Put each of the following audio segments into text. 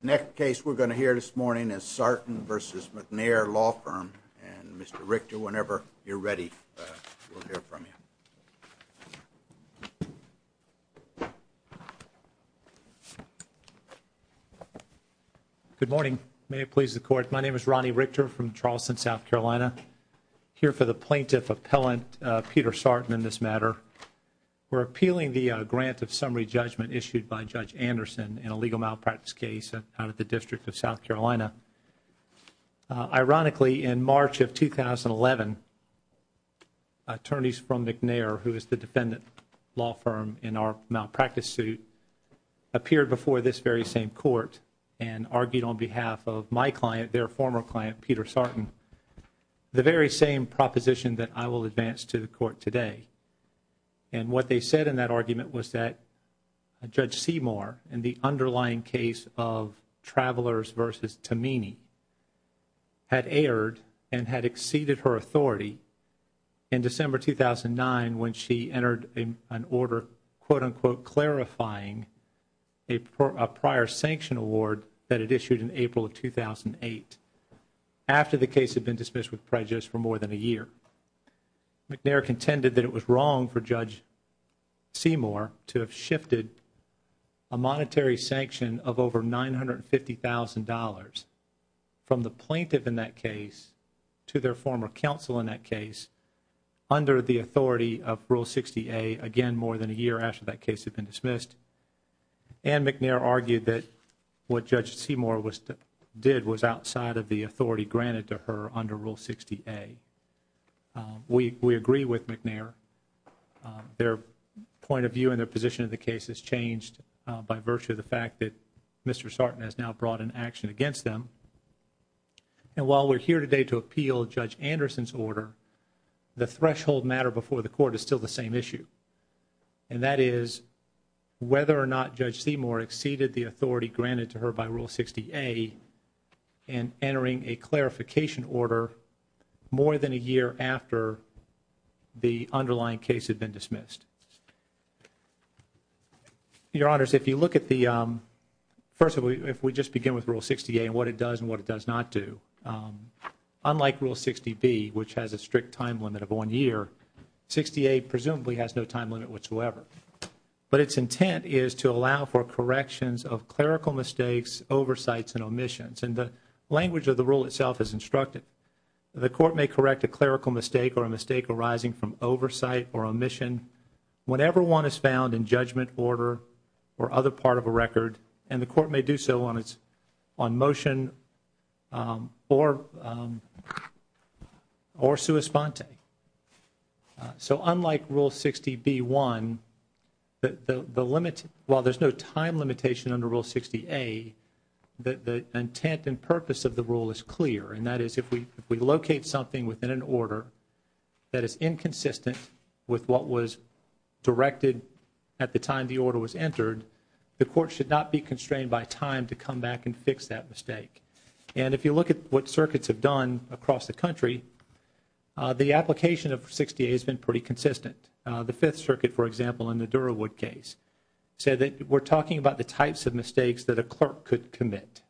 Next case we're going to hear this morning is Sartin v. McNair Law Firm. And Mr. Richter, whenever you're ready, we'll hear from you. Good morning. May it please the Court. My name is Ronnie Richter from Charleston, South Carolina. Here for the Plaintiff Appellant, Peter Sartin, in this matter. We're appealing the grant of malpractice case out of the District of South Carolina. Ironically, in March of 2011, attorneys from McNair, who is the defendant law firm in our malpractice suit, appeared before this very same court and argued on behalf of my client, their former client, Peter Sartin, the very same proposition that I will advance to the Court today. And what they said in that case of Travelers v. Tomini had erred and had exceeded her authority in December 2009 when she entered an order, quote, unquote, clarifying a prior sanction award that it issued in April of 2008 after the case had been dismissed with prejudice for more than a year. McNair contended that it was wrong for Judge Seymour to have shifted a monetary sanction of over $950,000 from the plaintiff in that case to their former counsel in that case under the authority of Rule 60A, again, more than a year after that case had been dismissed. And McNair argued that what Judge Seymour did was outside of the authority granted to her under Rule 60A. We agree with McNair. Their point of view and their position of the case has changed by virtue of the fact that Mr. Sartin has now brought an action against them. And while we're here today to appeal Judge Anderson's order, the threshold matter before the Court is still the same issue, and that is whether or not Judge Seymour exceeded the more than a year after the underlying case had been dismissed. Your Honors, if you look at the first of all, if we just begin with Rule 60A and what it does and what it does not do, unlike Rule 60B, which has a strict time limit of one year, 60A presumably has no time limit whatsoever. But its intent is to allow for corrections of clerical mistakes, oversights, and omissions. And the language of the rule itself is instructive. The Court may correct a clerical mistake or a mistake arising from oversight or omission whenever one is found in judgment, order, or other part of a record, and the Court may do so on motion or sua sponte. So unlike Rule 60B-1, while there's no time limitation under Rule 60A, the intent and purpose of the rule is clear, and that is if we locate something within an order that is inconsistent with what was directed at the time the order was entered, the Court should not be constrained by time to come back and fix that mistake. And if you look at what circuits have done across the country, the application of 60A has been pretty consistent. The Fifth Circuit, for example, in the Durawood case, said that we're talking about the types of mistakes that a clerk could commit.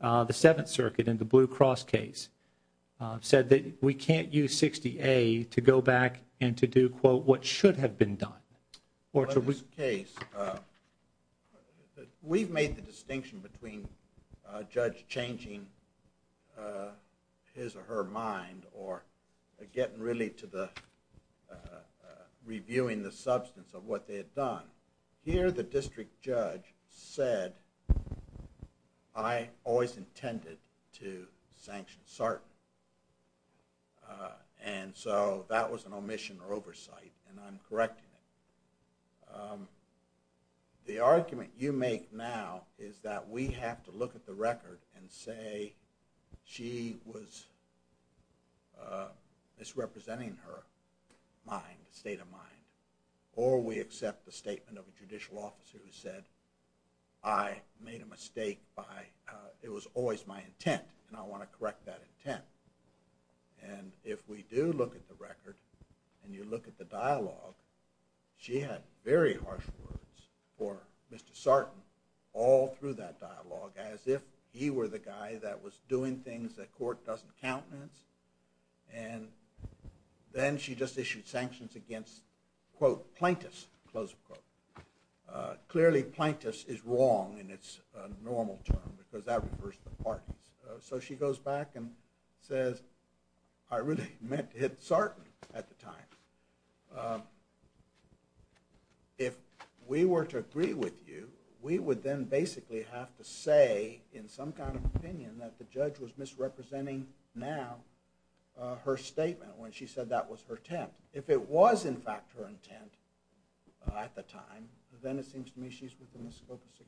The Seventh Circuit in the Blue Cross case said that we can't use 60A to go back and to do, quote, what should have been done. In this case, we've made the distinction between a judge changing his or her mind or getting really to the reviewing the substance of what they had done. Here, the district judge said, I always intended to sanction certain, and so that was an omission or oversight, and I'm correcting it. The argument you make now is that we have to look at the record and say she was misrepresenting her mind, state of mind, or we accept the statement of a judicial officer who said I made a mistake by, it was always my intent, and I want to correct that intent. And if we do look at the record and you look at the dialogue, she had very harsh words for Mr. Sarton all through that dialogue as if he were the guy that was doing things that court doesn't countenance, and then she just issued sanctions against, quote, plaintiffs, close quote. Clearly, plaintiffs is wrong in its normal term because that refers to parties. So she goes back and says, I really meant to hit Sarton at the time. If we were to agree with you, we would then basically have to say in some kind of opinion that the judge was misrepresenting now her statement when she said that was her intent. If it was, in fact, her intent at the time, then it seems to me she's within the scope of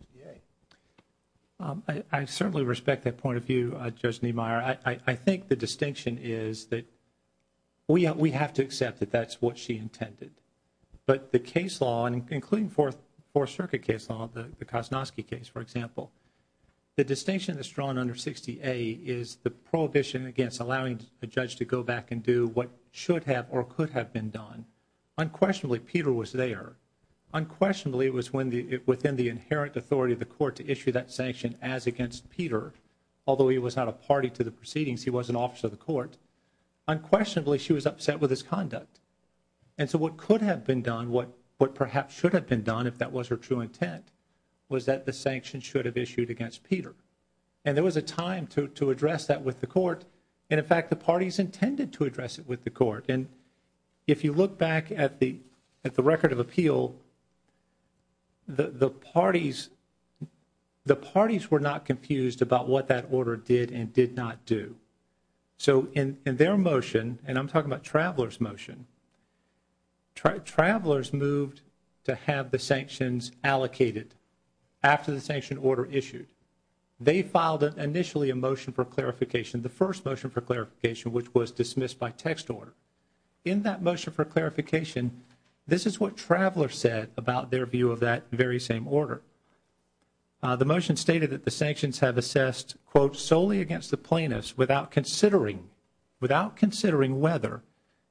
68. I certainly respect that point of view, Judge Niemeyer. I think the distinction is that we have to accept that that's what she intended, but the case law, including Fourth Circuit case law, the Kosnovsky case, for example, the distinction that's drawn under 68 is the prohibition against allowing a judge to go back and do what should have or could have been done. Unquestionably, Peter was there. Unquestionably, it was within the inherent authority of the court to issue that sanction as against Peter, although he was not a party to the proceedings, he was an officer of the court. Unquestionably, she was upset with his conduct. And so what could have been done, what perhaps should have been done if that was her true intent, was that the sanction should have issued against Peter. And there was a time to address that with the court. And in fact, the parties intended to address it with the court. And if you look back at the record of appeal, the parties were not confused about what that order did and did not do. So in their motion, and I'm talking about Traveler's motion, Travelers moved to have the sanctions allocated after the sanction order issued. They filed initially a motion for clarification, the first motion for clarification, which was dismissed by text order. In that motion for clarification, this is what Traveler said about their view of that very same order. The motion stated that the sanctions have assessed, quote, solely against the plaintiffs without considering, without considering whether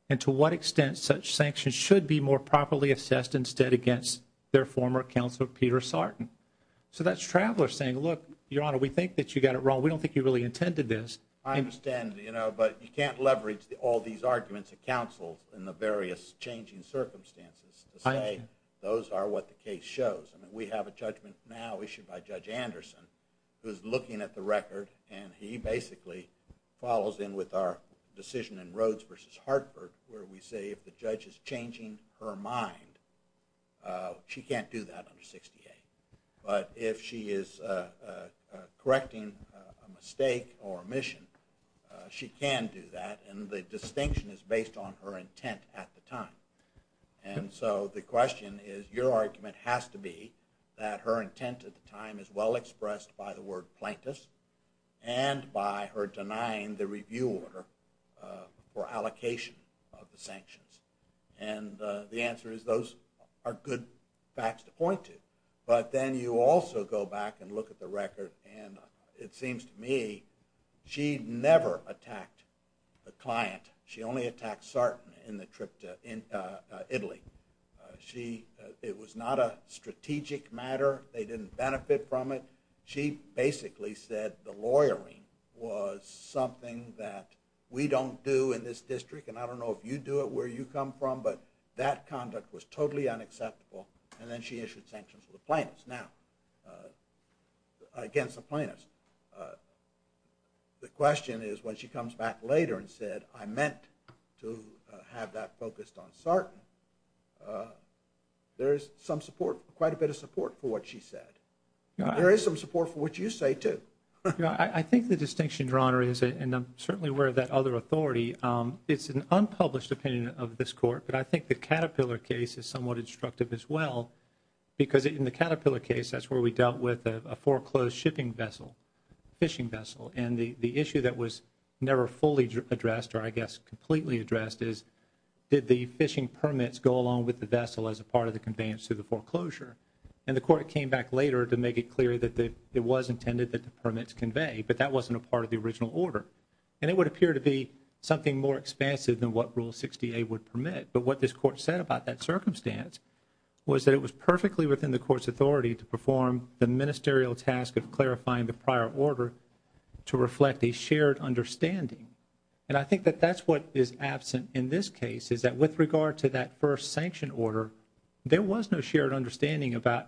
and to what extent such sanctions should be more properly assessed instead against their former counsel, Peter Sartin. So that's Traveler saying, look, Your Honor, we think that you got it wrong. We don't think you really intended this. I understand, you know, but you can't leverage all these arguments of counsel in the various changing circumstances to say those are what the case shows. I mean, have a judgment now issued by Judge Anderson, who's looking at the record, and he basically follows in with our decision in Rhodes v. Hartford, where we say if the judge is changing her mind, she can't do that under 68. But if she is correcting a mistake or omission, she can do that, and the distinction is based on her intent at the time. And so the question is, your argument has to be that her intent at the time is well expressed by the word plaintiffs and by her denying the review order for allocation of the sanctions. And the answer is those are good facts to point to. But then you also go back and look at the record, and it seems to me she never attacked the client. She only attacked Sarton in the trip to Italy. She, it was not a strategic matter. They didn't benefit from it. She basically said the lawyering was something that we don't do in this district, and I don't know if you do it, where you come from, but that conduct was totally unacceptable, and then she issued sanctions for the plaintiffs. Now, against the plaintiffs, the question is when she comes back later and said, I meant to have that focused on Sarton, there is some support, quite a bit of support for what she said. There is some support for what you say, too. I think the distinction, Your Honor, is, and I'm certainly aware of that other authority, it's an unpublished opinion of this Court, but I think the Caterpillar case is somewhat instructive as well, because in the Caterpillar case, that's where we dealt with a foreclosed shipping vessel, fishing vessel, and the issue that was never fully addressed, or I guess completely addressed, is did the fishing permits go along with the vessel as a part of the conveyance to the foreclosure, and the Court came back later to make it clear that it was intended that the permits convey, but that wasn't a part of the original order, and it would appear to be something more expansive than what Rule 60A would permit, but what this Court said about that circumstance was that it was perfectly within the Court's authority to perform the prior order to reflect a shared understanding, and I think that that's what is absent in this case, is that with regard to that first sanction order, there was no shared understanding about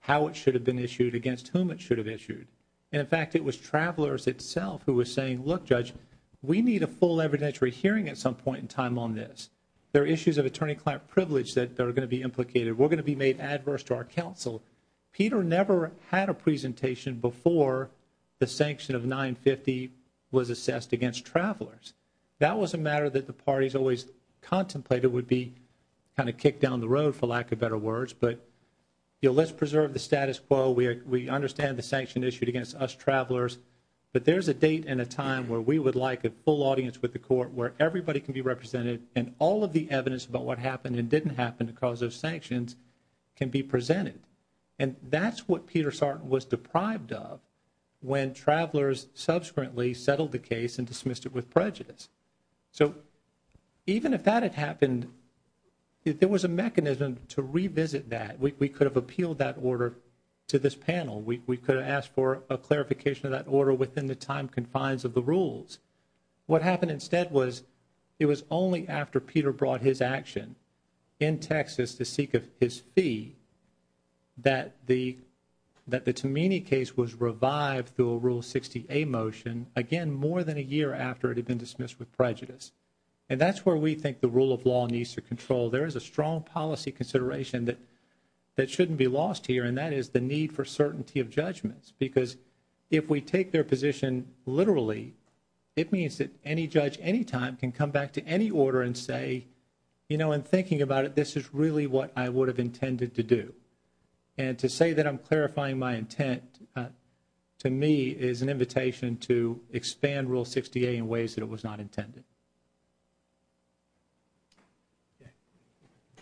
how it should have been issued against whom it should have issued, and in fact, it was Travelers itself who was saying, look, Judge, we need a full evidentiary hearing at some point in time on this. There are issues of attorney-client privilege that are going to be implicated. We're going to be made adverse to our counsel. Peter never had a presentation before the sanction of 950 was assessed against Travelers. That was a matter that the parties always contemplated would be kind of kicked down the road, for lack of better words, but, you know, let's preserve the status quo. We understand the sanction issued against us Travelers, but there's a date and a time where we would like a full audience with the Court where everybody can be represented, and all of the can be presented, and that's what Peter Sarton was deprived of when Travelers subsequently settled the case and dismissed it with prejudice. So even if that had happened, there was a mechanism to revisit that. We could have appealed that order to this panel. We could have asked for a clarification of that order within the time confines of the rules. What happened instead was it was only after the fee that the Tamini case was revived through a Rule 60A motion, again, more than a year after it had been dismissed with prejudice. And that's where we think the rule of law needs to control. There is a strong policy consideration that shouldn't be lost here, and that is the need for certainty of judgments, because if we take their position literally, it means that any judge, any time, can come back to any order and say, you know, in thinking about it, this is really what I would have intended to do. And to say that I'm clarifying my intent, to me, is an invitation to expand Rule 60A in ways that it was not intended.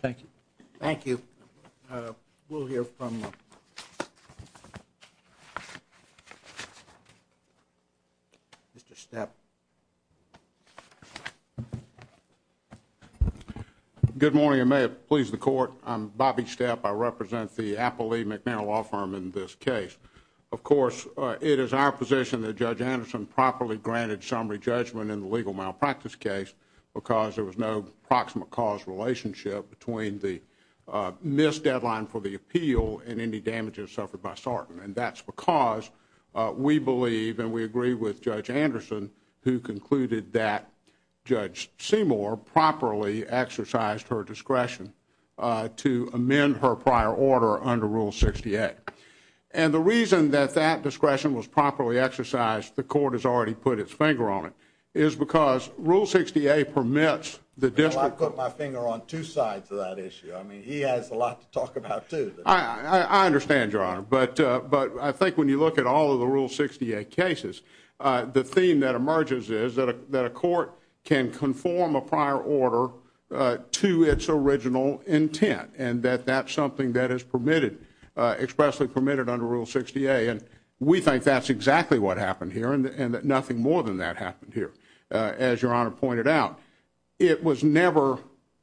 Thank you. Thank you. We'll hear from Mr. Stepp. Good morning. I may have pleased the Court. I'm Bobby Stepp. I represent the Applee-McNairn Law Firm in this case. Of course, it is our position that Judge Anderson properly granted summary judgment in the legal malpractice case because there was no proximate cause relationship between the missed deadline for the appeal and any damages suffered by Sartin. And that's because we believe, and we agree with Judge Anderson, who concluded that Judge Seymour properly exercised her discretion to amend her prior order under Rule 68. And the reason that that discretion was properly exercised, the Court has already put its finger on it, is because Rule 68 permits the district court... Well, I've put my finger on two sides of that issue. I mean, he has a lot to talk about, too. I understand, Your Honor. But I think when you look at all of the Rule 68 cases, the theme that emerges is that a court can conform a prior order to its original intent, and that that's something that is permitted, expressly permitted under Rule 68. And we think that's exactly what happened here, and that nothing more than that happened here. As Your Honor pointed out, it was never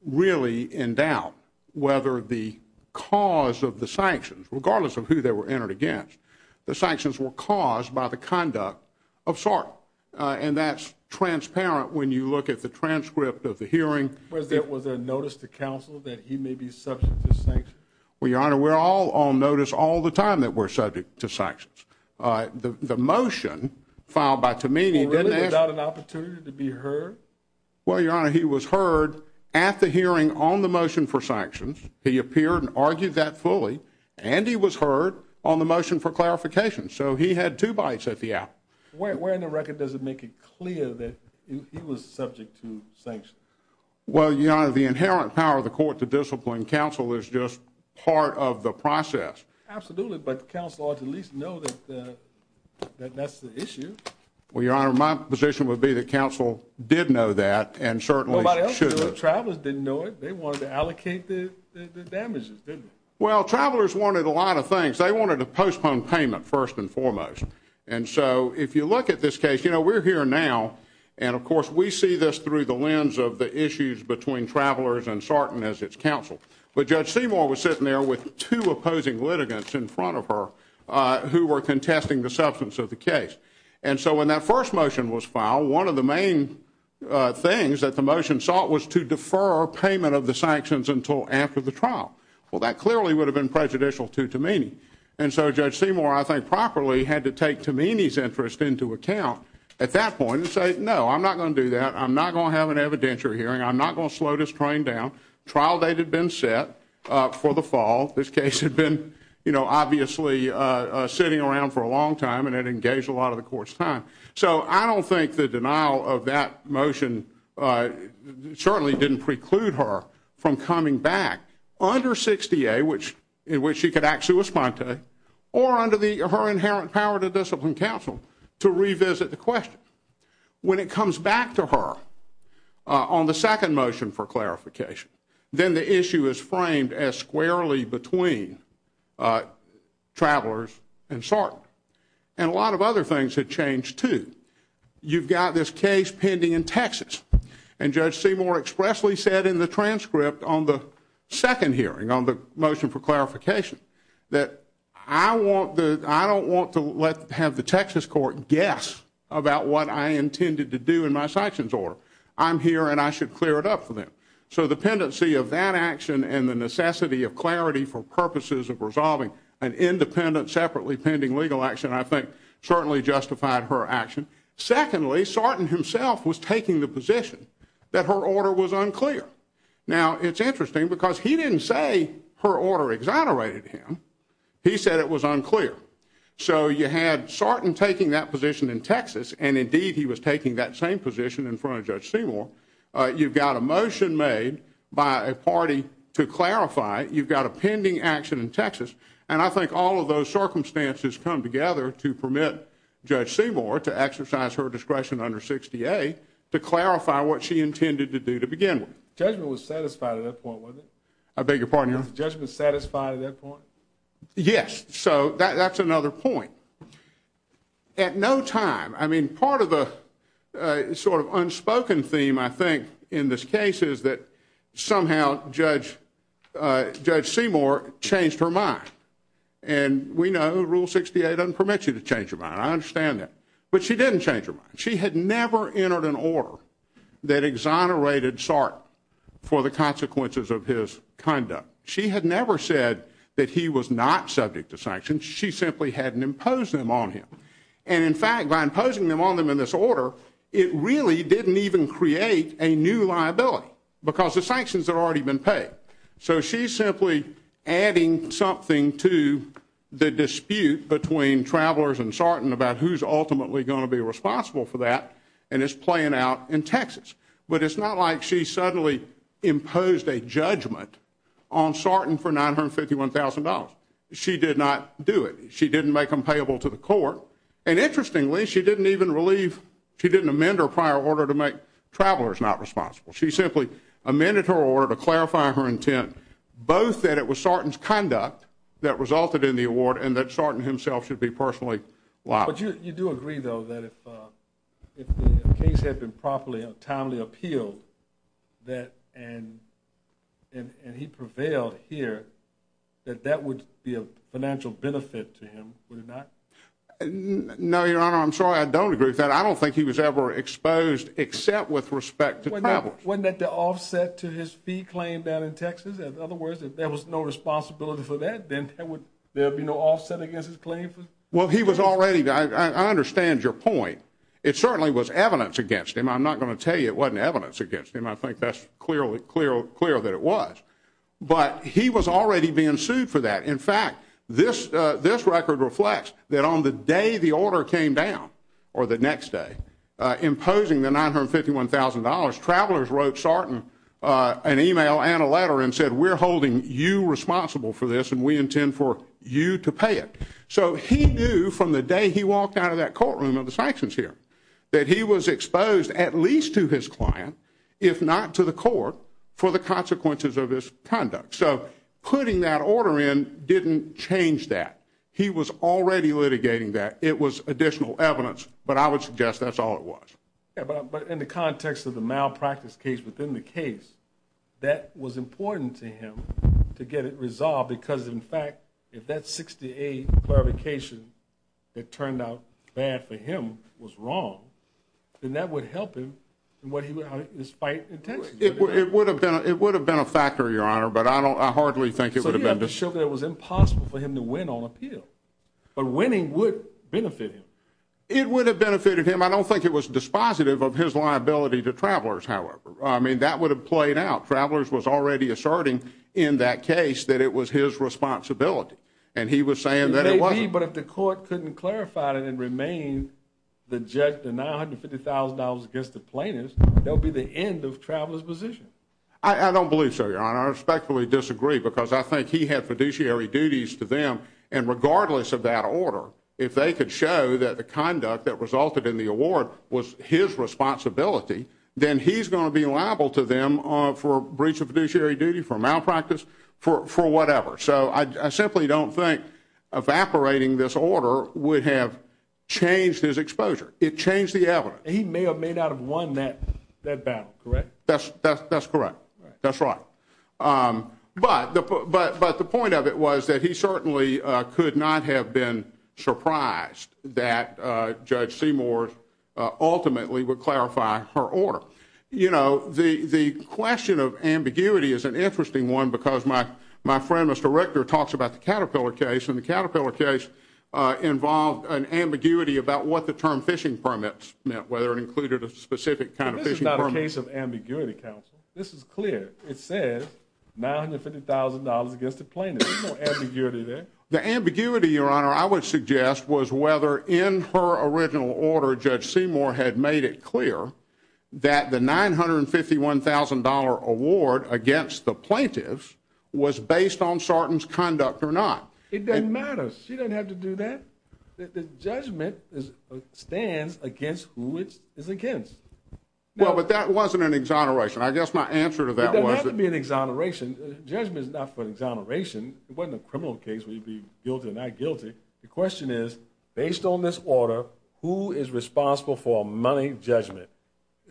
really in doubt whether the cause of the sanctions, regardless of who they were entered against, the sanctions were caused by the conduct of Sartin. And that's transparent when you look at the transcript of the hearing... Was there notice to counsel that he may be subject to sanctions? Well, Your Honor, we're all on notice all the time that we're subject to sanctions. The motion filed by Tammini... Was there not an opportunity to be heard? Well, Your Honor, he was heard at the hearing on the motion for sanctions. He appeared and argued that fully, and he was heard on the motion for clarification. So he had two bites at the apple. Where in the record does it make it clear that he was subject to sanctions? Well, Your Honor, the inherent power of the court to discipline counsel is just part of the process. Absolutely. But counsel ought to at least know that that's the issue. Well, Your Honor, my position would be that counsel did know that, and certainly should... Nobody else knew it. Travelers didn't know it. They wanted to allocate the damages, didn't they? Well, travelers wanted a lot of things. They wanted a postponed payment first and foremost. And so if you look at this case, you know, we're here now, and of course we see this through the lens of the issues between travelers and Sartin as its counsel. But Judge Seymour was sitting there with two opposing litigants in front of her who were contesting the substance of the case. And so when that first motion was filed, one of the main things that the motion sought was to defer payment of the sanctions until after the trial. Well, that clearly would have been prejudicial to Tamini. And so Judge Seymour, I think, properly had to take Tamini's interest into account at that point and say, no, I'm not going to do that. I'm not going to have an evidentiary hearing. I'm not going to slow this train down. Trial date had been set for the fall. This case had been, obviously, sitting around for a long time, and it engaged a lot of the court's time. So I don't think the denial of that motion certainly didn't preclude her from coming back under 60A, in which she could actually respond to, or under her inherent power to discipline counsel to revisit the question. When it comes back to her on the second motion for clarification, then the issue is framed as squarely between travelers and SART. And a lot of other things had changed, too. You've got this case pending in Texas, and Judge Seymour expressly said in the transcript on the second hearing, on the motion for clarification, that I don't want to have the Texas court guess about what I intended to do in my So the pendency of that action and the necessity of clarity for purposes of resolving an independent, separately pending legal action, I think certainly justified her action. Secondly, Sarton himself was taking the position that her order was unclear. Now, it's interesting because he didn't say her order exonerated him. He said it was unclear. So you had Sarton taking that position in Texas, and indeed he was taking that same position in Texas. You've got a motion made by a party to clarify. You've got a pending action in Texas. And I think all of those circumstances come together to permit Judge Seymour to exercise her discretion under 60A to clarify what she intended to do to begin with. Judgment was satisfied at that point, wasn't it? I beg your pardon? Was the judgment satisfied at that point? Yes. So that's another point. At no time, I mean, part of the sort of unspoken theme, I think, in this case is that somehow Judge Seymour changed her mind. And we know Rule 68 doesn't permit you to change your mind. I understand that. But she didn't change her mind. She had never entered an order that exonerated Sarton for the consequences of his conduct. She had never said that he was not subject to sanctions. She simply hadn't imposed them on him. And in fact, by because the sanctions had already been paid. So she's simply adding something to the dispute between Travelers and Sarton about who's ultimately going to be responsible for that. And it's playing out in Texas. But it's not like she suddenly imposed a judgment on Sarton for $951,000. She did not do it. She didn't make them payable to the court. And interestingly, she didn't even relieve, she didn't amend her prior order to make it possible. She simply amended her order to clarify her intent, both that it was Sarton's conduct that resulted in the award and that Sarton himself should be personally liable. But you do agree, though, that if the case had been properly and timely appealed, that and he prevailed here, that that would be a financial benefit to him, would it not? No, Your Honor, I'm sorry, I don't agree with that. I don't think he was ever exposed, except with respect to Travelers. Wasn't that the offset to his fee claim down in Texas? In other words, if there was no responsibility for that, then there would be no offset against his claim? Well, he was already, I understand your point. It certainly was evidence against him. I'm not going to tell you it wasn't evidence against him. I think that's clear that it was. But he was already being sued for that. In fact, this record reflects that on the day the order came down, the next day, imposing the $951,000, Travelers wrote Sarton an email and a letter and said, we're holding you responsible for this and we intend for you to pay it. So he knew from the day he walked out of that courtroom of the sanctions here, that he was exposed at least to his client, if not to the court, for the consequences of his conduct. So putting that order in didn't change that. He was already litigating that. It was additional evidence, but I would suggest that's all it was. Yeah, but in the context of the malpractice case within the case, that was important to him to get it resolved. Because in fact, if that 68 clarification that turned out bad for him was wrong, then that would help him in what he was fighting. It would have been, it would have been a factor, your honor, but I don't, I hardly think it would have been to show that it was impossible for him to win on appeal, but winning would benefit him. It would have benefited him. I don't think it was dispositive of his liability to Travelers, however. I mean, that would have played out. Travelers was already asserting in that case that it was his responsibility. And he was saying that it wasn't. But if the court couldn't clarify it and remain the judge denied $50,000 against the plaintiffs, there'll be the end of Travelers' position. I don't believe so, your honor. I respectfully disagree because I think he had fiduciary to them. And regardless of that order, if they could show that the conduct that resulted in the award was his responsibility, then he's going to be liable to them for breach of fiduciary duty, for malpractice, for whatever. So I simply don't think evaporating this order would have changed his exposure. It changed the evidence. He may have made out of one that battle, correct? That's correct. That's right. But the point of it was that he certainly could not have been surprised that Judge Seymour ultimately would clarify her order. You know, the question of ambiguity is an interesting one because my friend, Mr. Richter, talks about the Caterpillar case. And the Caterpillar case involved an ambiguity about what the term fishing permits meant, whether it included a specific kind of fishing permit. But this is not a case of ambiguity, counsel. This is clear. It says $950,000 against the plaintiffs. There's no ambiguity there. The ambiguity, your honor, I would suggest was whether in her original order Judge Seymour had made it clear that the $951,000 award against the plaintiffs was based on Sarton's conduct or not. It doesn't matter. She doesn't have to do that. The judgment stands against who it is against. Well, but that wasn't an exoneration. I guess my answer to that was... It doesn't have to be an exoneration. Judgment is not for exoneration. It wasn't a criminal case where you'd be guilty or not guilty. The question is, based on this order, who is responsible for a money judgment?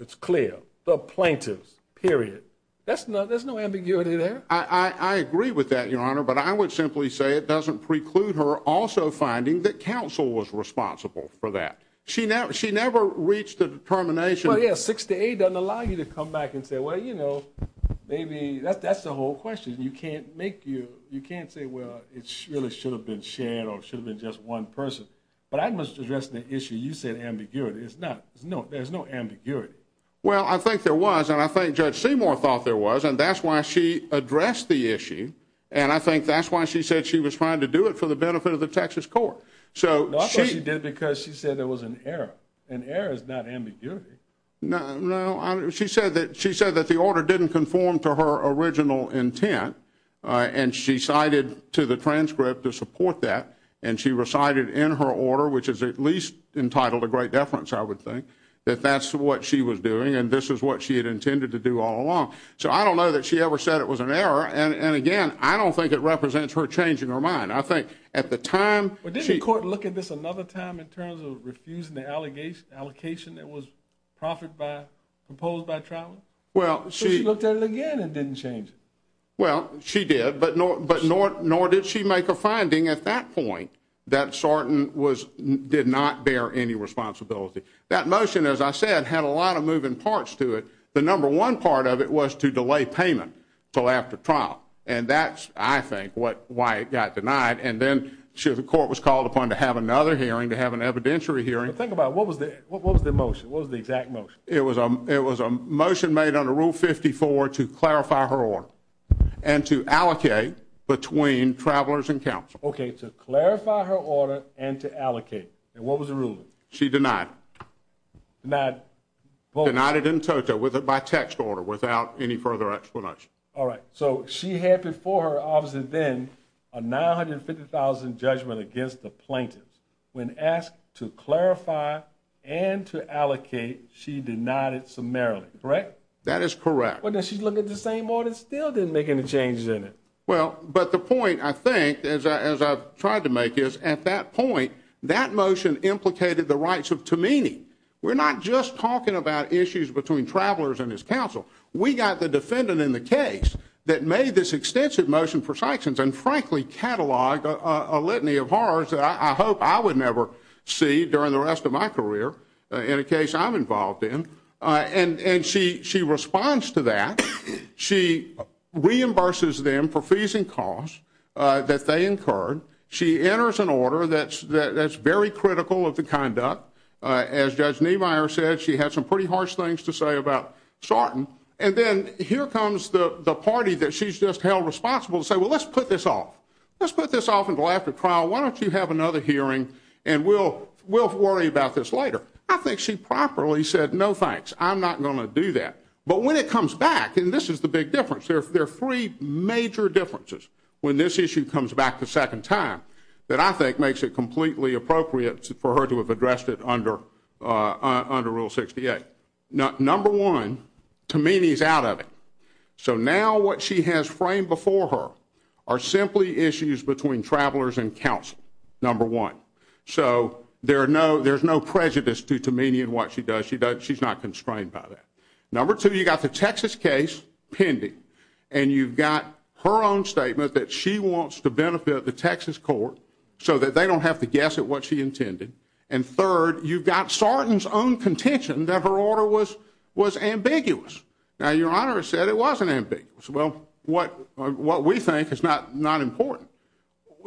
It's clear. The plaintiffs, period. There's no ambiguity there. I agree with that, your honor, but I would simply say it doesn't preclude her also finding that counsel was responsible for that. She never reached the determination... Well, yeah. 6 to 8 doesn't allow you to come back and say, well, you know, maybe... That's the whole question. You can't make you... You can't say, well, it really should have been shared or it should have been just one person. But I must address the issue. You said ambiguity. There's no ambiguity. Well, I think there was, and I think Judge Seymour thought there was, and that's why she addressed the issue, and I think that's why she said she was trying to do it for the benefit of the Texas court. So she... No, I thought she did because she said there was an error. An error is not ambiguity. No, no. She said that the order didn't conform to her original intent, and she cited to the transcript to support that, and she recited in her order, which is at least entitled to great deference, I would think, that that's what she was doing, and this is what she had intended to do all along. So I don't know that she ever said it was an error, and again, I don't think it represents her changing her mind. I think at the time... But didn't the court look at this another time in terms of refusing the allocation that was proposed by Troutland? Well, she... So she looked at it again and didn't change it. Well, she did, but nor did she make a finding at that point that Sarton did not bear any responsibility. That motion, as I said, had a lot of moving parts to it. The number one part of it was to delay payment until after trial, and that's, I think, why it got denied, and then the court was called upon to have another hearing, to have an evidentiary hearing. But think about it. What was the motion? What was the exact motion? It was a motion made under Rule 54 to clarify her order and to allocate between travelers and counsel. Okay, to clarify her order and to allocate, and what was the ruling? She denied it. Denied both? Denied it in toto, by text order, without any further explanation. All right. So she had before her, obviously then, a $950,000 judgment against the plaintiff. When asked to clarify and to allocate, she denied it summarily, correct? That is correct. But then she looked at the same order and still didn't make any changes in it. Well, but the point, I think, as I've tried to make is, at that point, that motion implicated the rights of Tammini. We're not just talking about issues between travelers and his counsel. We got the defendant in the case that made this extensive motion for sanctions and, frankly, cataloged a litany of horrors that I hope I would never see during the rest of my career, in a case I'm involved in. And she responds to that. She reimburses them for fees and costs that they incurred. She enters an order that's very critical of the conduct. As Judge Niemeyer said, she had some pretty harsh things to say about Sarton. And then here comes the party that she's just held responsible to say, well, let's put this off. Let's put this off and go after trial. Why don't you have another hearing and we'll worry about this later? I think she properly said, no, thanks. I'm not going to do that. But when it comes back, and this is the big difference, there are three major differences when this issue comes back the second time that I think makes it completely appropriate for her to have addressed it under Rule 68. Number one, Tammini's out of it. So now what she has framed before her are simply issues between travelers and counsel, number one. So there's no prejudice to Tammini in what she does. She's not constrained by that. Number two, you got the Texas case pending. And you've got her own statement that she wants to benefit the Texas court so that they don't have to guess at what she intended. And third, you've got Sarton's own contention that her order was ambiguous. Now, Your Honor said it wasn't ambiguous. Well, what we think is not important.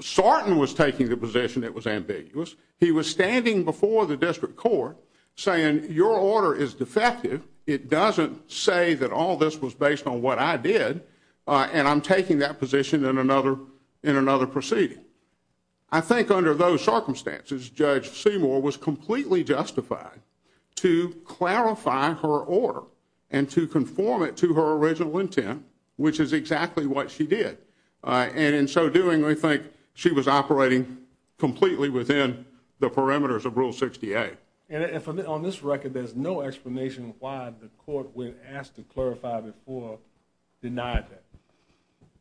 Sarton was taking the position it was ambiguous. He was standing before the district court saying, your order is defective. It doesn't say that all this was based on what I did. And I'm taking that position in another proceeding. I think under those circumstances, Judge Seymour was completely justified to clarify her order and to conform it to her original intent, which is exactly what she did. And in so doing, I think she was operating completely within the parameters of Rule 60A. And on this record, there's no explanation why the court, when asked to clarify before, denied that.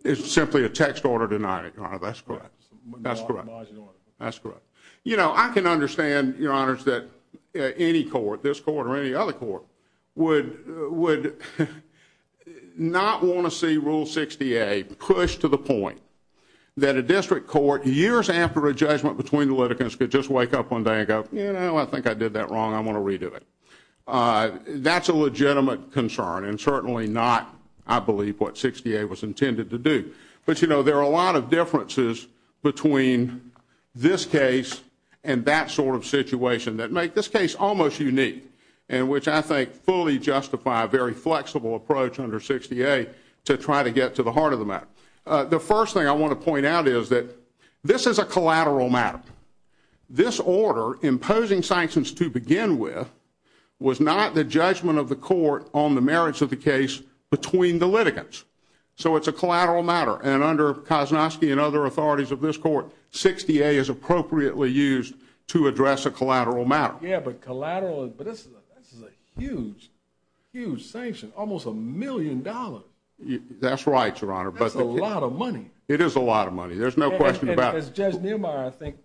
It's simply a text order denying it, Your Honor. That's correct. That's correct. You know, I can understand, Your Honors, that any court, this court or any other court, would not want to see Rule 60A pushed to the point that a district court, years after a district court, would just wake up one day and go, you know, I think I did that wrong. I want to redo it. That's a legitimate concern and certainly not, I believe, what 60A was intended to do. But, you know, there are a lot of differences between this case and that sort of situation that make this case almost unique and which I think fully justify a very flexible approach under 60A to try to get to the heart of the matter. The first thing I want to point out is that this is a collateral matter. This order, imposing sanctions to begin with, was not the judgment of the court on the merits of the case between the litigants. So it's a collateral matter. And under Kosnovsky and other authorities of this court, 60A is appropriately used to address a collateral matter. Yeah, but collateral, but this is a huge, huge sanction, almost a million dollars. That's right, Your Honor. That's a lot of money. It is a lot of money. There's no question about it. As Judge Neumeier, I think,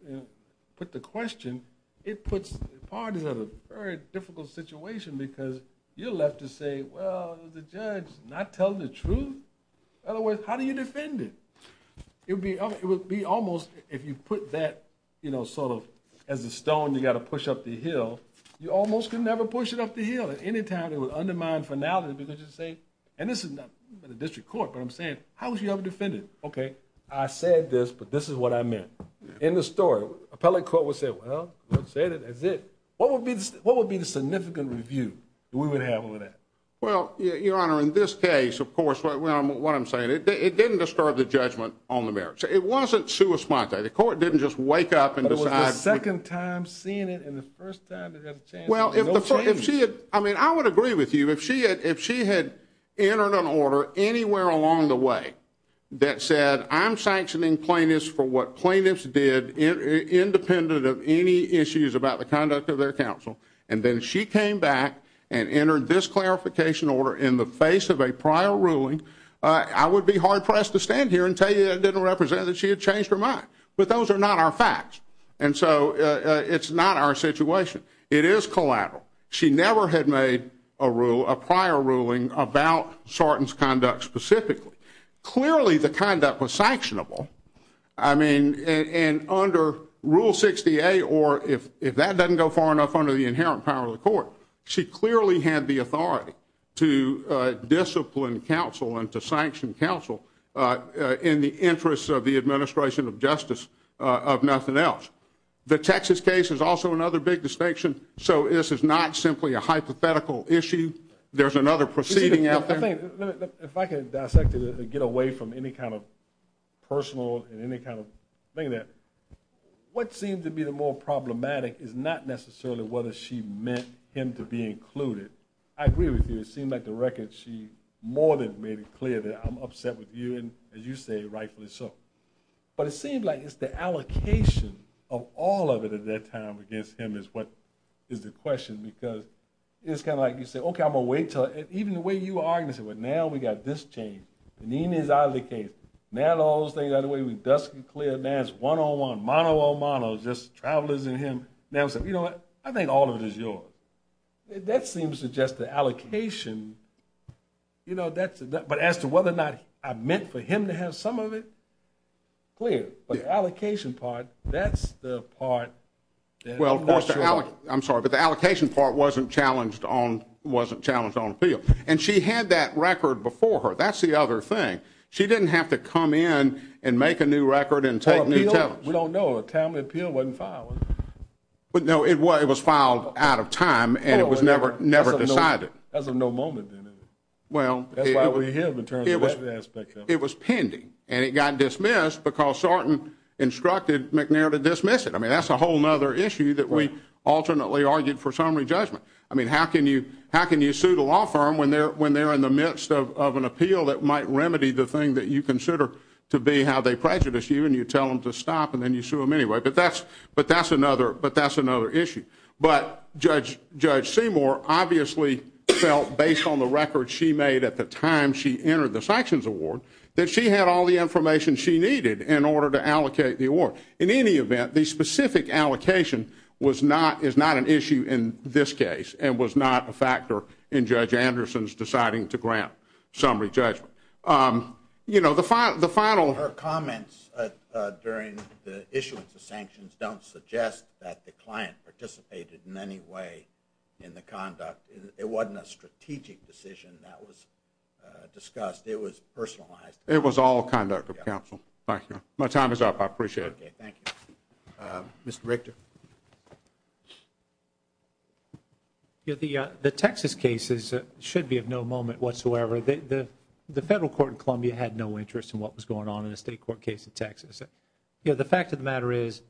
put the question, it puts parties in a very difficult situation because you're left to say, well, the judge is not telling the truth. In other words, how do you defend it? It would be almost, if you put that, you know, sort of as a stone you got to push up the hill, you almost could never push it up the hill at any time. It would undermine finality because you say, and this is not the district court, but I'm saying, how would you ever defend it? Okay, I said this, but this is what I meant. In the story, appellate court would say, well, that's it. What would be the significant review that we would have on that? Well, Your Honor, in this case, of course, what I'm saying, it didn't disturb the judgment on the merits. It wasn't sua sponte. The court didn't just wake up and decide. But it was the second time seeing it and the first time that it had a chance. Well, if she had, I mean, I would agree with you. If she had entered an order anywhere along the way that said, I'm sanctioning plaintiffs for what plaintiffs did independent of any issues about the conduct of their counsel, and then she came back and entered this clarification order in the face of a prior ruling, I would be hard pressed to stand here and tell you that didn't represent that she had changed her mind. But those are not our facts. And so it's not our situation. It is collateral. She never had made a rule, a prior ruling, about Sarton's conduct specifically. Clearly, the conduct was sanctionable. I mean, and under Rule 68, or if that doesn't go far enough under the inherent power of the court, she clearly had the authority to discipline counsel and to sanction counsel in the interests of the administration of justice, of nothing else. The Texas case is also another big distinction. So this is not simply a hypothetical issue. There's another proceeding out there. I think, if I can dissect it and get away from any kind of personal and any kind of thing that what seems to be the more problematic is not necessarily whether she meant him to be included. I agree with you. It seemed like the record, she more than made it clear that I'm upset with you. As you say, rightfully so. But it seems like it's the allocation of all of it at that time against him is what is the question. Because it's kind of like you say, OK, I'm going to wait until, even the way you are, you say, well, now we got this changed. And he is out of the case. Now all those things, by the way, we're dusking clear. Now it's one-on-one, mano-a-mano, just travelers and him. Now I'm saying, you know what? I think all of it is yours. That seems to suggest the allocation, but as to whether or not I meant for him to have some of it, clear. But the allocation part, that's the part that I'm not sure about. I'm sorry, but the allocation part wasn't challenged on appeal. And she had that record before her. That's the other thing. She didn't have to come in and make a new record and take new challenge. We don't know. A timely appeal wasn't filed, was it? Well, no, it was filed out of time, and it was never decided. That was of no moment in it. That's why we're here in terms of that aspect of it. It was pending, and it got dismissed because Sarton instructed McNair to dismiss it. I mean, that's a whole other issue that we alternately argued for summary judgment. I mean, how can you sue the law firm when they're in the midst of an appeal that might remedy the thing that you consider to be how they prejudice you, and you tell them to stop, and then you sue them anyway? But that's another issue. But Judge Seymour obviously felt, based on the record she made at the time she entered the sanctions award, that she had all the information she needed in order to allocate the award. In any event, the specific allocation is not an issue in this case and was not a factor in Judge Anderson's deciding to grant summary judgment. You know, the final... Her comments during the issuance of sanctions don't suggest that the client participated in any way in the conduct. It wasn't a strategic decision that was discussed. It was personalized. It was all conduct of counsel. Thank you. My time is up. I appreciate it. Okay. Thank you. Mr. Richter. You know, the Texas cases should be of no moment whatsoever. The federal court in Columbia had no interest in what was going on in a state court case in Texas. You know, the fact of the matter is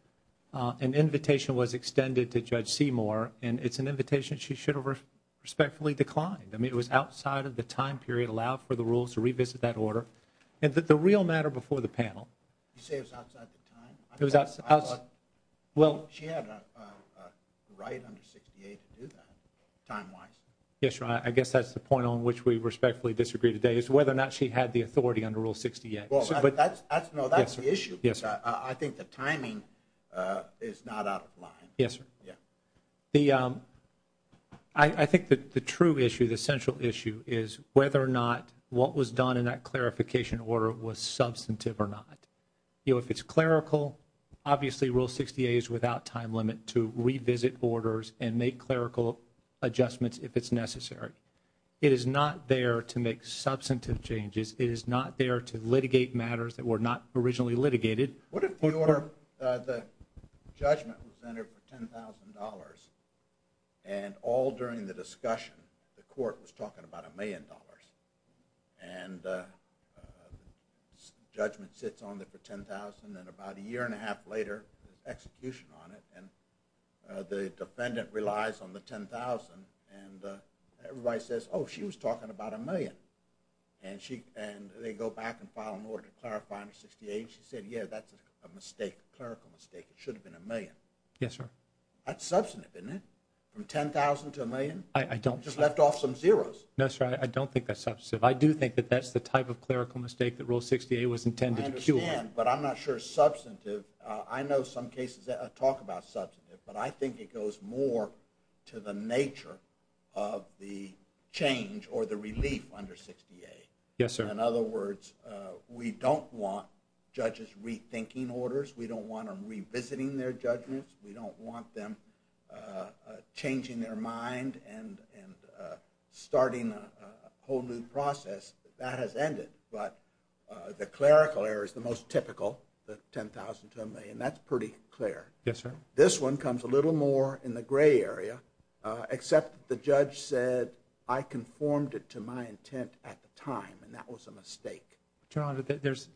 an invitation was extended to Judge Seymour, and it's an invitation she should have respectfully declined. I mean, it was outside of the time period allowed for the rules to revisit that order, and that the real matter before the panel... You say it was outside the time? It was outside... Well... She had a right under 68 to do that, time-wise. Yes, Your Honor. I guess that's the point on which we respectfully disagree today is whether or not she had the authority under Rule 68. Well, that's... No, that's the issue. Yes, sir. I think the timing is not out of line. Yes, sir. Yeah. The... I think that the true issue, the central issue is whether or not what was done in that clerical... Obviously, Rule 68 is without time limit to revisit orders and make clerical adjustments if it's necessary. It is not there to make substantive changes. It is not there to litigate matters that were not originally litigated. What if, Your Honor, the judgment was entered for $10,000, and all during the discussion, the court was talking about a million dollars, and the judgment sits on there for $10,000, and about a year and a half later, execution on it, and the defendant relies on the $10,000, and everybody says, oh, she was talking about a million, and they go back and file an order to clarify under 68. She said, yeah, that's a mistake, a clerical mistake. It should have been a million. Yes, sir. That's substantive, isn't it? From $10,000 to a million? I don't... I do think that that's the type of clerical mistake that Rule 68 was intended to cure. But I'm not sure substantive... I know some cases that talk about substantive, but I think it goes more to the nature of the change or the relief under 68. Yes, sir. In other words, we don't want judges rethinking orders. We don't want them revisiting their judgments. We don't want them changing their mind and starting a whole new process. That has ended. But the clerical error is the most typical, the $10,000 to a million. That's pretty clear. Yes, sir. This one comes a little more in the gray area, except the judge said, I conformed it to my intent at the time, and that was a mistake. Your Honor, there's...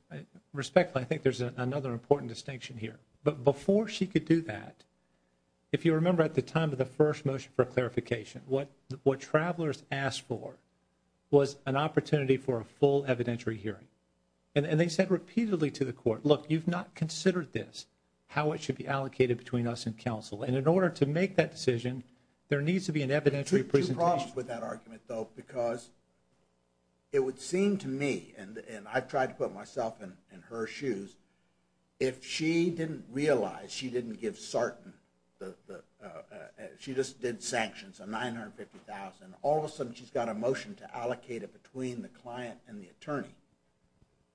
respectfully, I think there's another important distinction here. But before she could do that, if you remember at the time of the first motion for clarification, what Travelers asked for was an opportunity for a full evidentiary hearing. And they said repeatedly to the court, look, you've not considered this, how it should be allocated between us and counsel. And in order to make that decision, there needs to be an evidentiary presentation. I have two problems with that argument, though, because it would seem to me, and I've tried to put myself in her shoes, if she didn't realize she didn't give Sarton, she just did sanctions, a $950,000, all of a sudden she's got a motion to allocate it between the client and the attorney.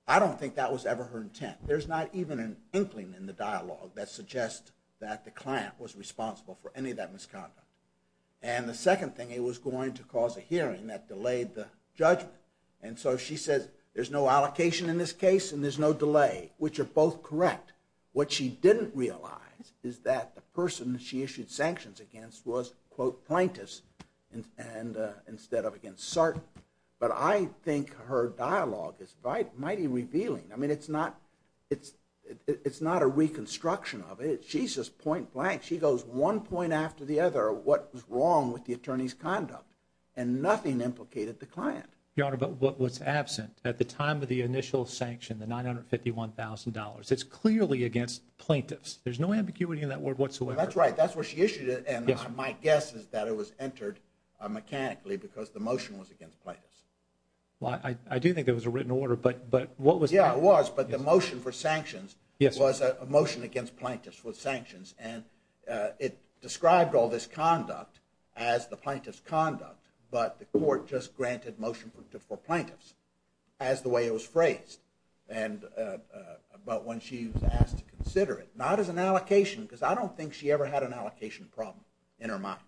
I don't think that was ever her intent. There's not even an inkling in the dialogue that suggests that the client was responsible for any of that misconduct. And the second thing, it was going to cause a hearing that delayed the judgment. And so she says, there's no allocation in this case, and there's no delay, which are both correct. What she didn't realize is that the person that she issued sanctions against was, quote, plaintiffs, and instead of against Sarton. But I think her dialogue is mighty revealing. I mean, it's not a reconstruction of it. She's just point blank. She goes one point after the other, what was wrong with the attorney's conduct, and nothing implicated the client. Your Honor, but what's absent at the time of the initial sanction, the $951,000, it's clearly against plaintiffs. There's no ambiguity in that word whatsoever. That's right. That's where she issued it, and my guess is that it was entered mechanically because the motion was against plaintiffs. Well, I do think there was a written order, but what was- Yeah, it was, but the motion for sanctions was a motion against plaintiffs with sanctions. And it described all this conduct as the plaintiff's conduct, but the court just granted motion for plaintiffs as the way it was phrased. But when she was asked to consider it, not as an allocation, because I don't think she ever had an allocation problem in her mind.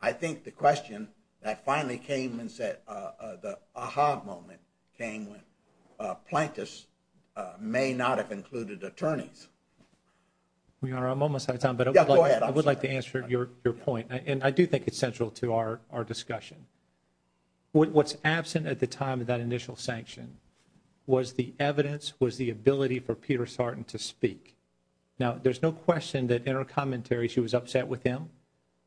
I think the question that finally came and said, the aha moment came when plaintiffs may not have included attorneys. Your Honor, I'm almost out of time, but- Yeah, go ahead. I would like to answer your point, and I do think it's central to our discussion. What's absent at the time of that initial sanction was the evidence, was the ability for Peter Sartin to speak. Now, there's no question that in her commentary, she was upset with him.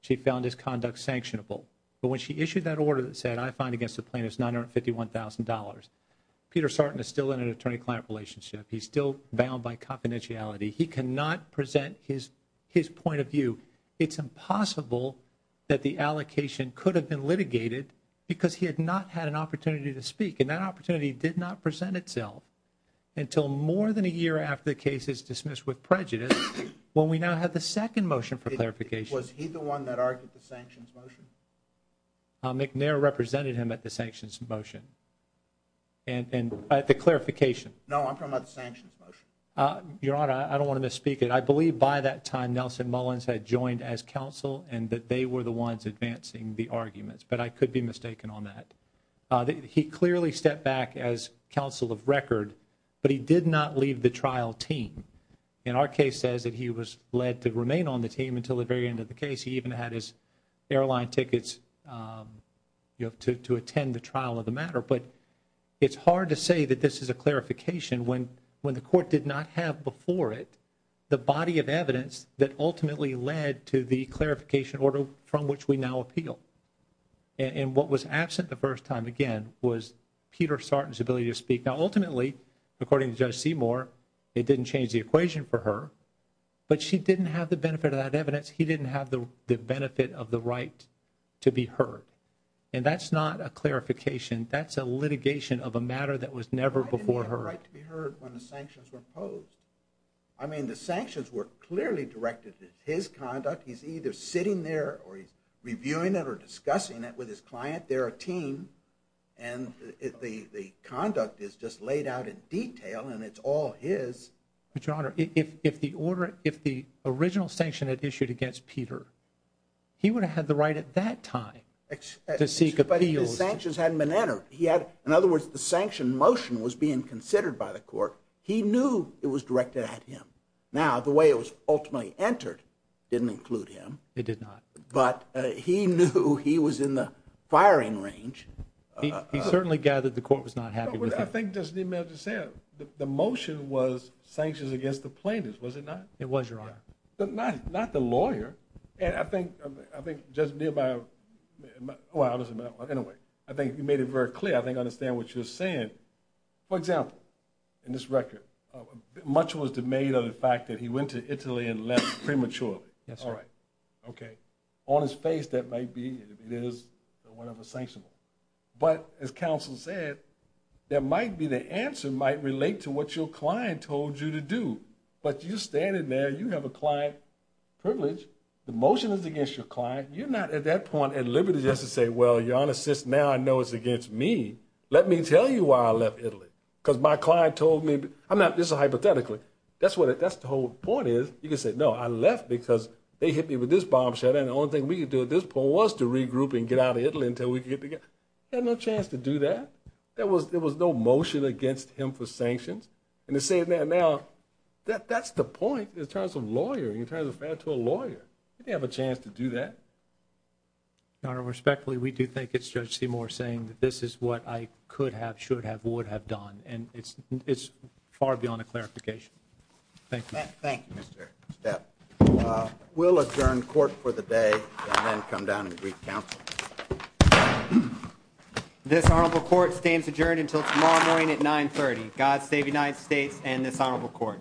She found his conduct sanctionable. But when she issued that order that said, I find against the plaintiffs $951,000, Peter Sartin is still in an attorney-client relationship. He's still bound by confidentiality. He cannot present his point of view. It's impossible that the allocation could have been litigated because he had not had an opportunity to speak, and that opportunity did not present itself until more than a year after the case is dismissed with prejudice, when we now have the second motion for clarification. Was he the one that argued the sanctions motion? McNair represented him at the sanctions motion, and at the clarification. No, I'm talking about the sanctions motion. Your Honor, I don't want to misspeak it. I believe by that time, Nelson Mullins had joined as counsel, and that they were the ones advancing the arguments, but I could be mistaken on that. He clearly stepped back as counsel of record, but he did not leave the trial team. In our case, it says that he was led to remain on the team until the very end of the case. He even had his airline tickets to attend the trial of the matter. But it's hard to say that this is clarification when the court did not have before it the body of evidence that ultimately led to the clarification order from which we now appeal. And what was absent the first time, again, was Peter Sarton's ability to speak. Now, ultimately, according to Judge Seymour, it didn't change the equation for her, but she didn't have the benefit of that evidence. He didn't have the benefit of the right to be heard. And that's not a clarification. That's a litigation of a matter that was never before heard. He didn't have the right to be heard when the sanctions were imposed. I mean, the sanctions were clearly directed at his conduct. He's either sitting there or he's reviewing it or discussing it with his client. They're a team, and the conduct is just laid out in detail, and it's all his. But, Your Honor, if the original sanction had issued against Peter, he would have had the right at that time to seek appeals. But his sanctions hadn't been entered. He had, in other words, the sanction motion was being considered by the court. He knew it was directed at him. Now, the way it was ultimately entered didn't include him. It did not. But he knew he was in the firing range. He certainly gathered the court was not happy with him. I think, just to be fair, the motion was sanctions against the plaintiffs, was it not? It was, Your Honor. Not the lawyer. And I think, just nearby, well, anyway, I think you made it very clear. I think I understand what you're saying. For example, in this record, much was the made of the fact that he went to Italy and left prematurely. Yes, Your Honor. Okay. On his face, that might be, it is one of the sanctions. But, as counsel said, there might be the answer might relate to what your client told you to do. But you're standing there. You have a client privilege. The motion is against your client. You're not, at that point, at liberty just to say, well, Your Honor, since now I know it's against me, let me tell you why I left Italy. Because my client told me, I'm not, this is hypothetically, that's what it, that's the whole point is. You can say, no, I left because they hit me with this bombshell. And the only thing we could do at this point was to regroup and get out of Italy until we could get together. He had no chance to do that. There was no motion against him for sanctions. And to say that now, that's the point in terms of lawyering, in terms of fair to a lawyer. He didn't have a chance to do that. Your Honor, respectfully, we do think it's Judge Seymour saying that this is what I could have, should have, would have done. And it's far beyond a clarification. Thank you. Thank you, Mr. Step. We'll adjourn court for the day and then come down and brief counsel. Thank you. This honorable court stands adjourned until tomorrow morning at 930. God save United States and this honorable court.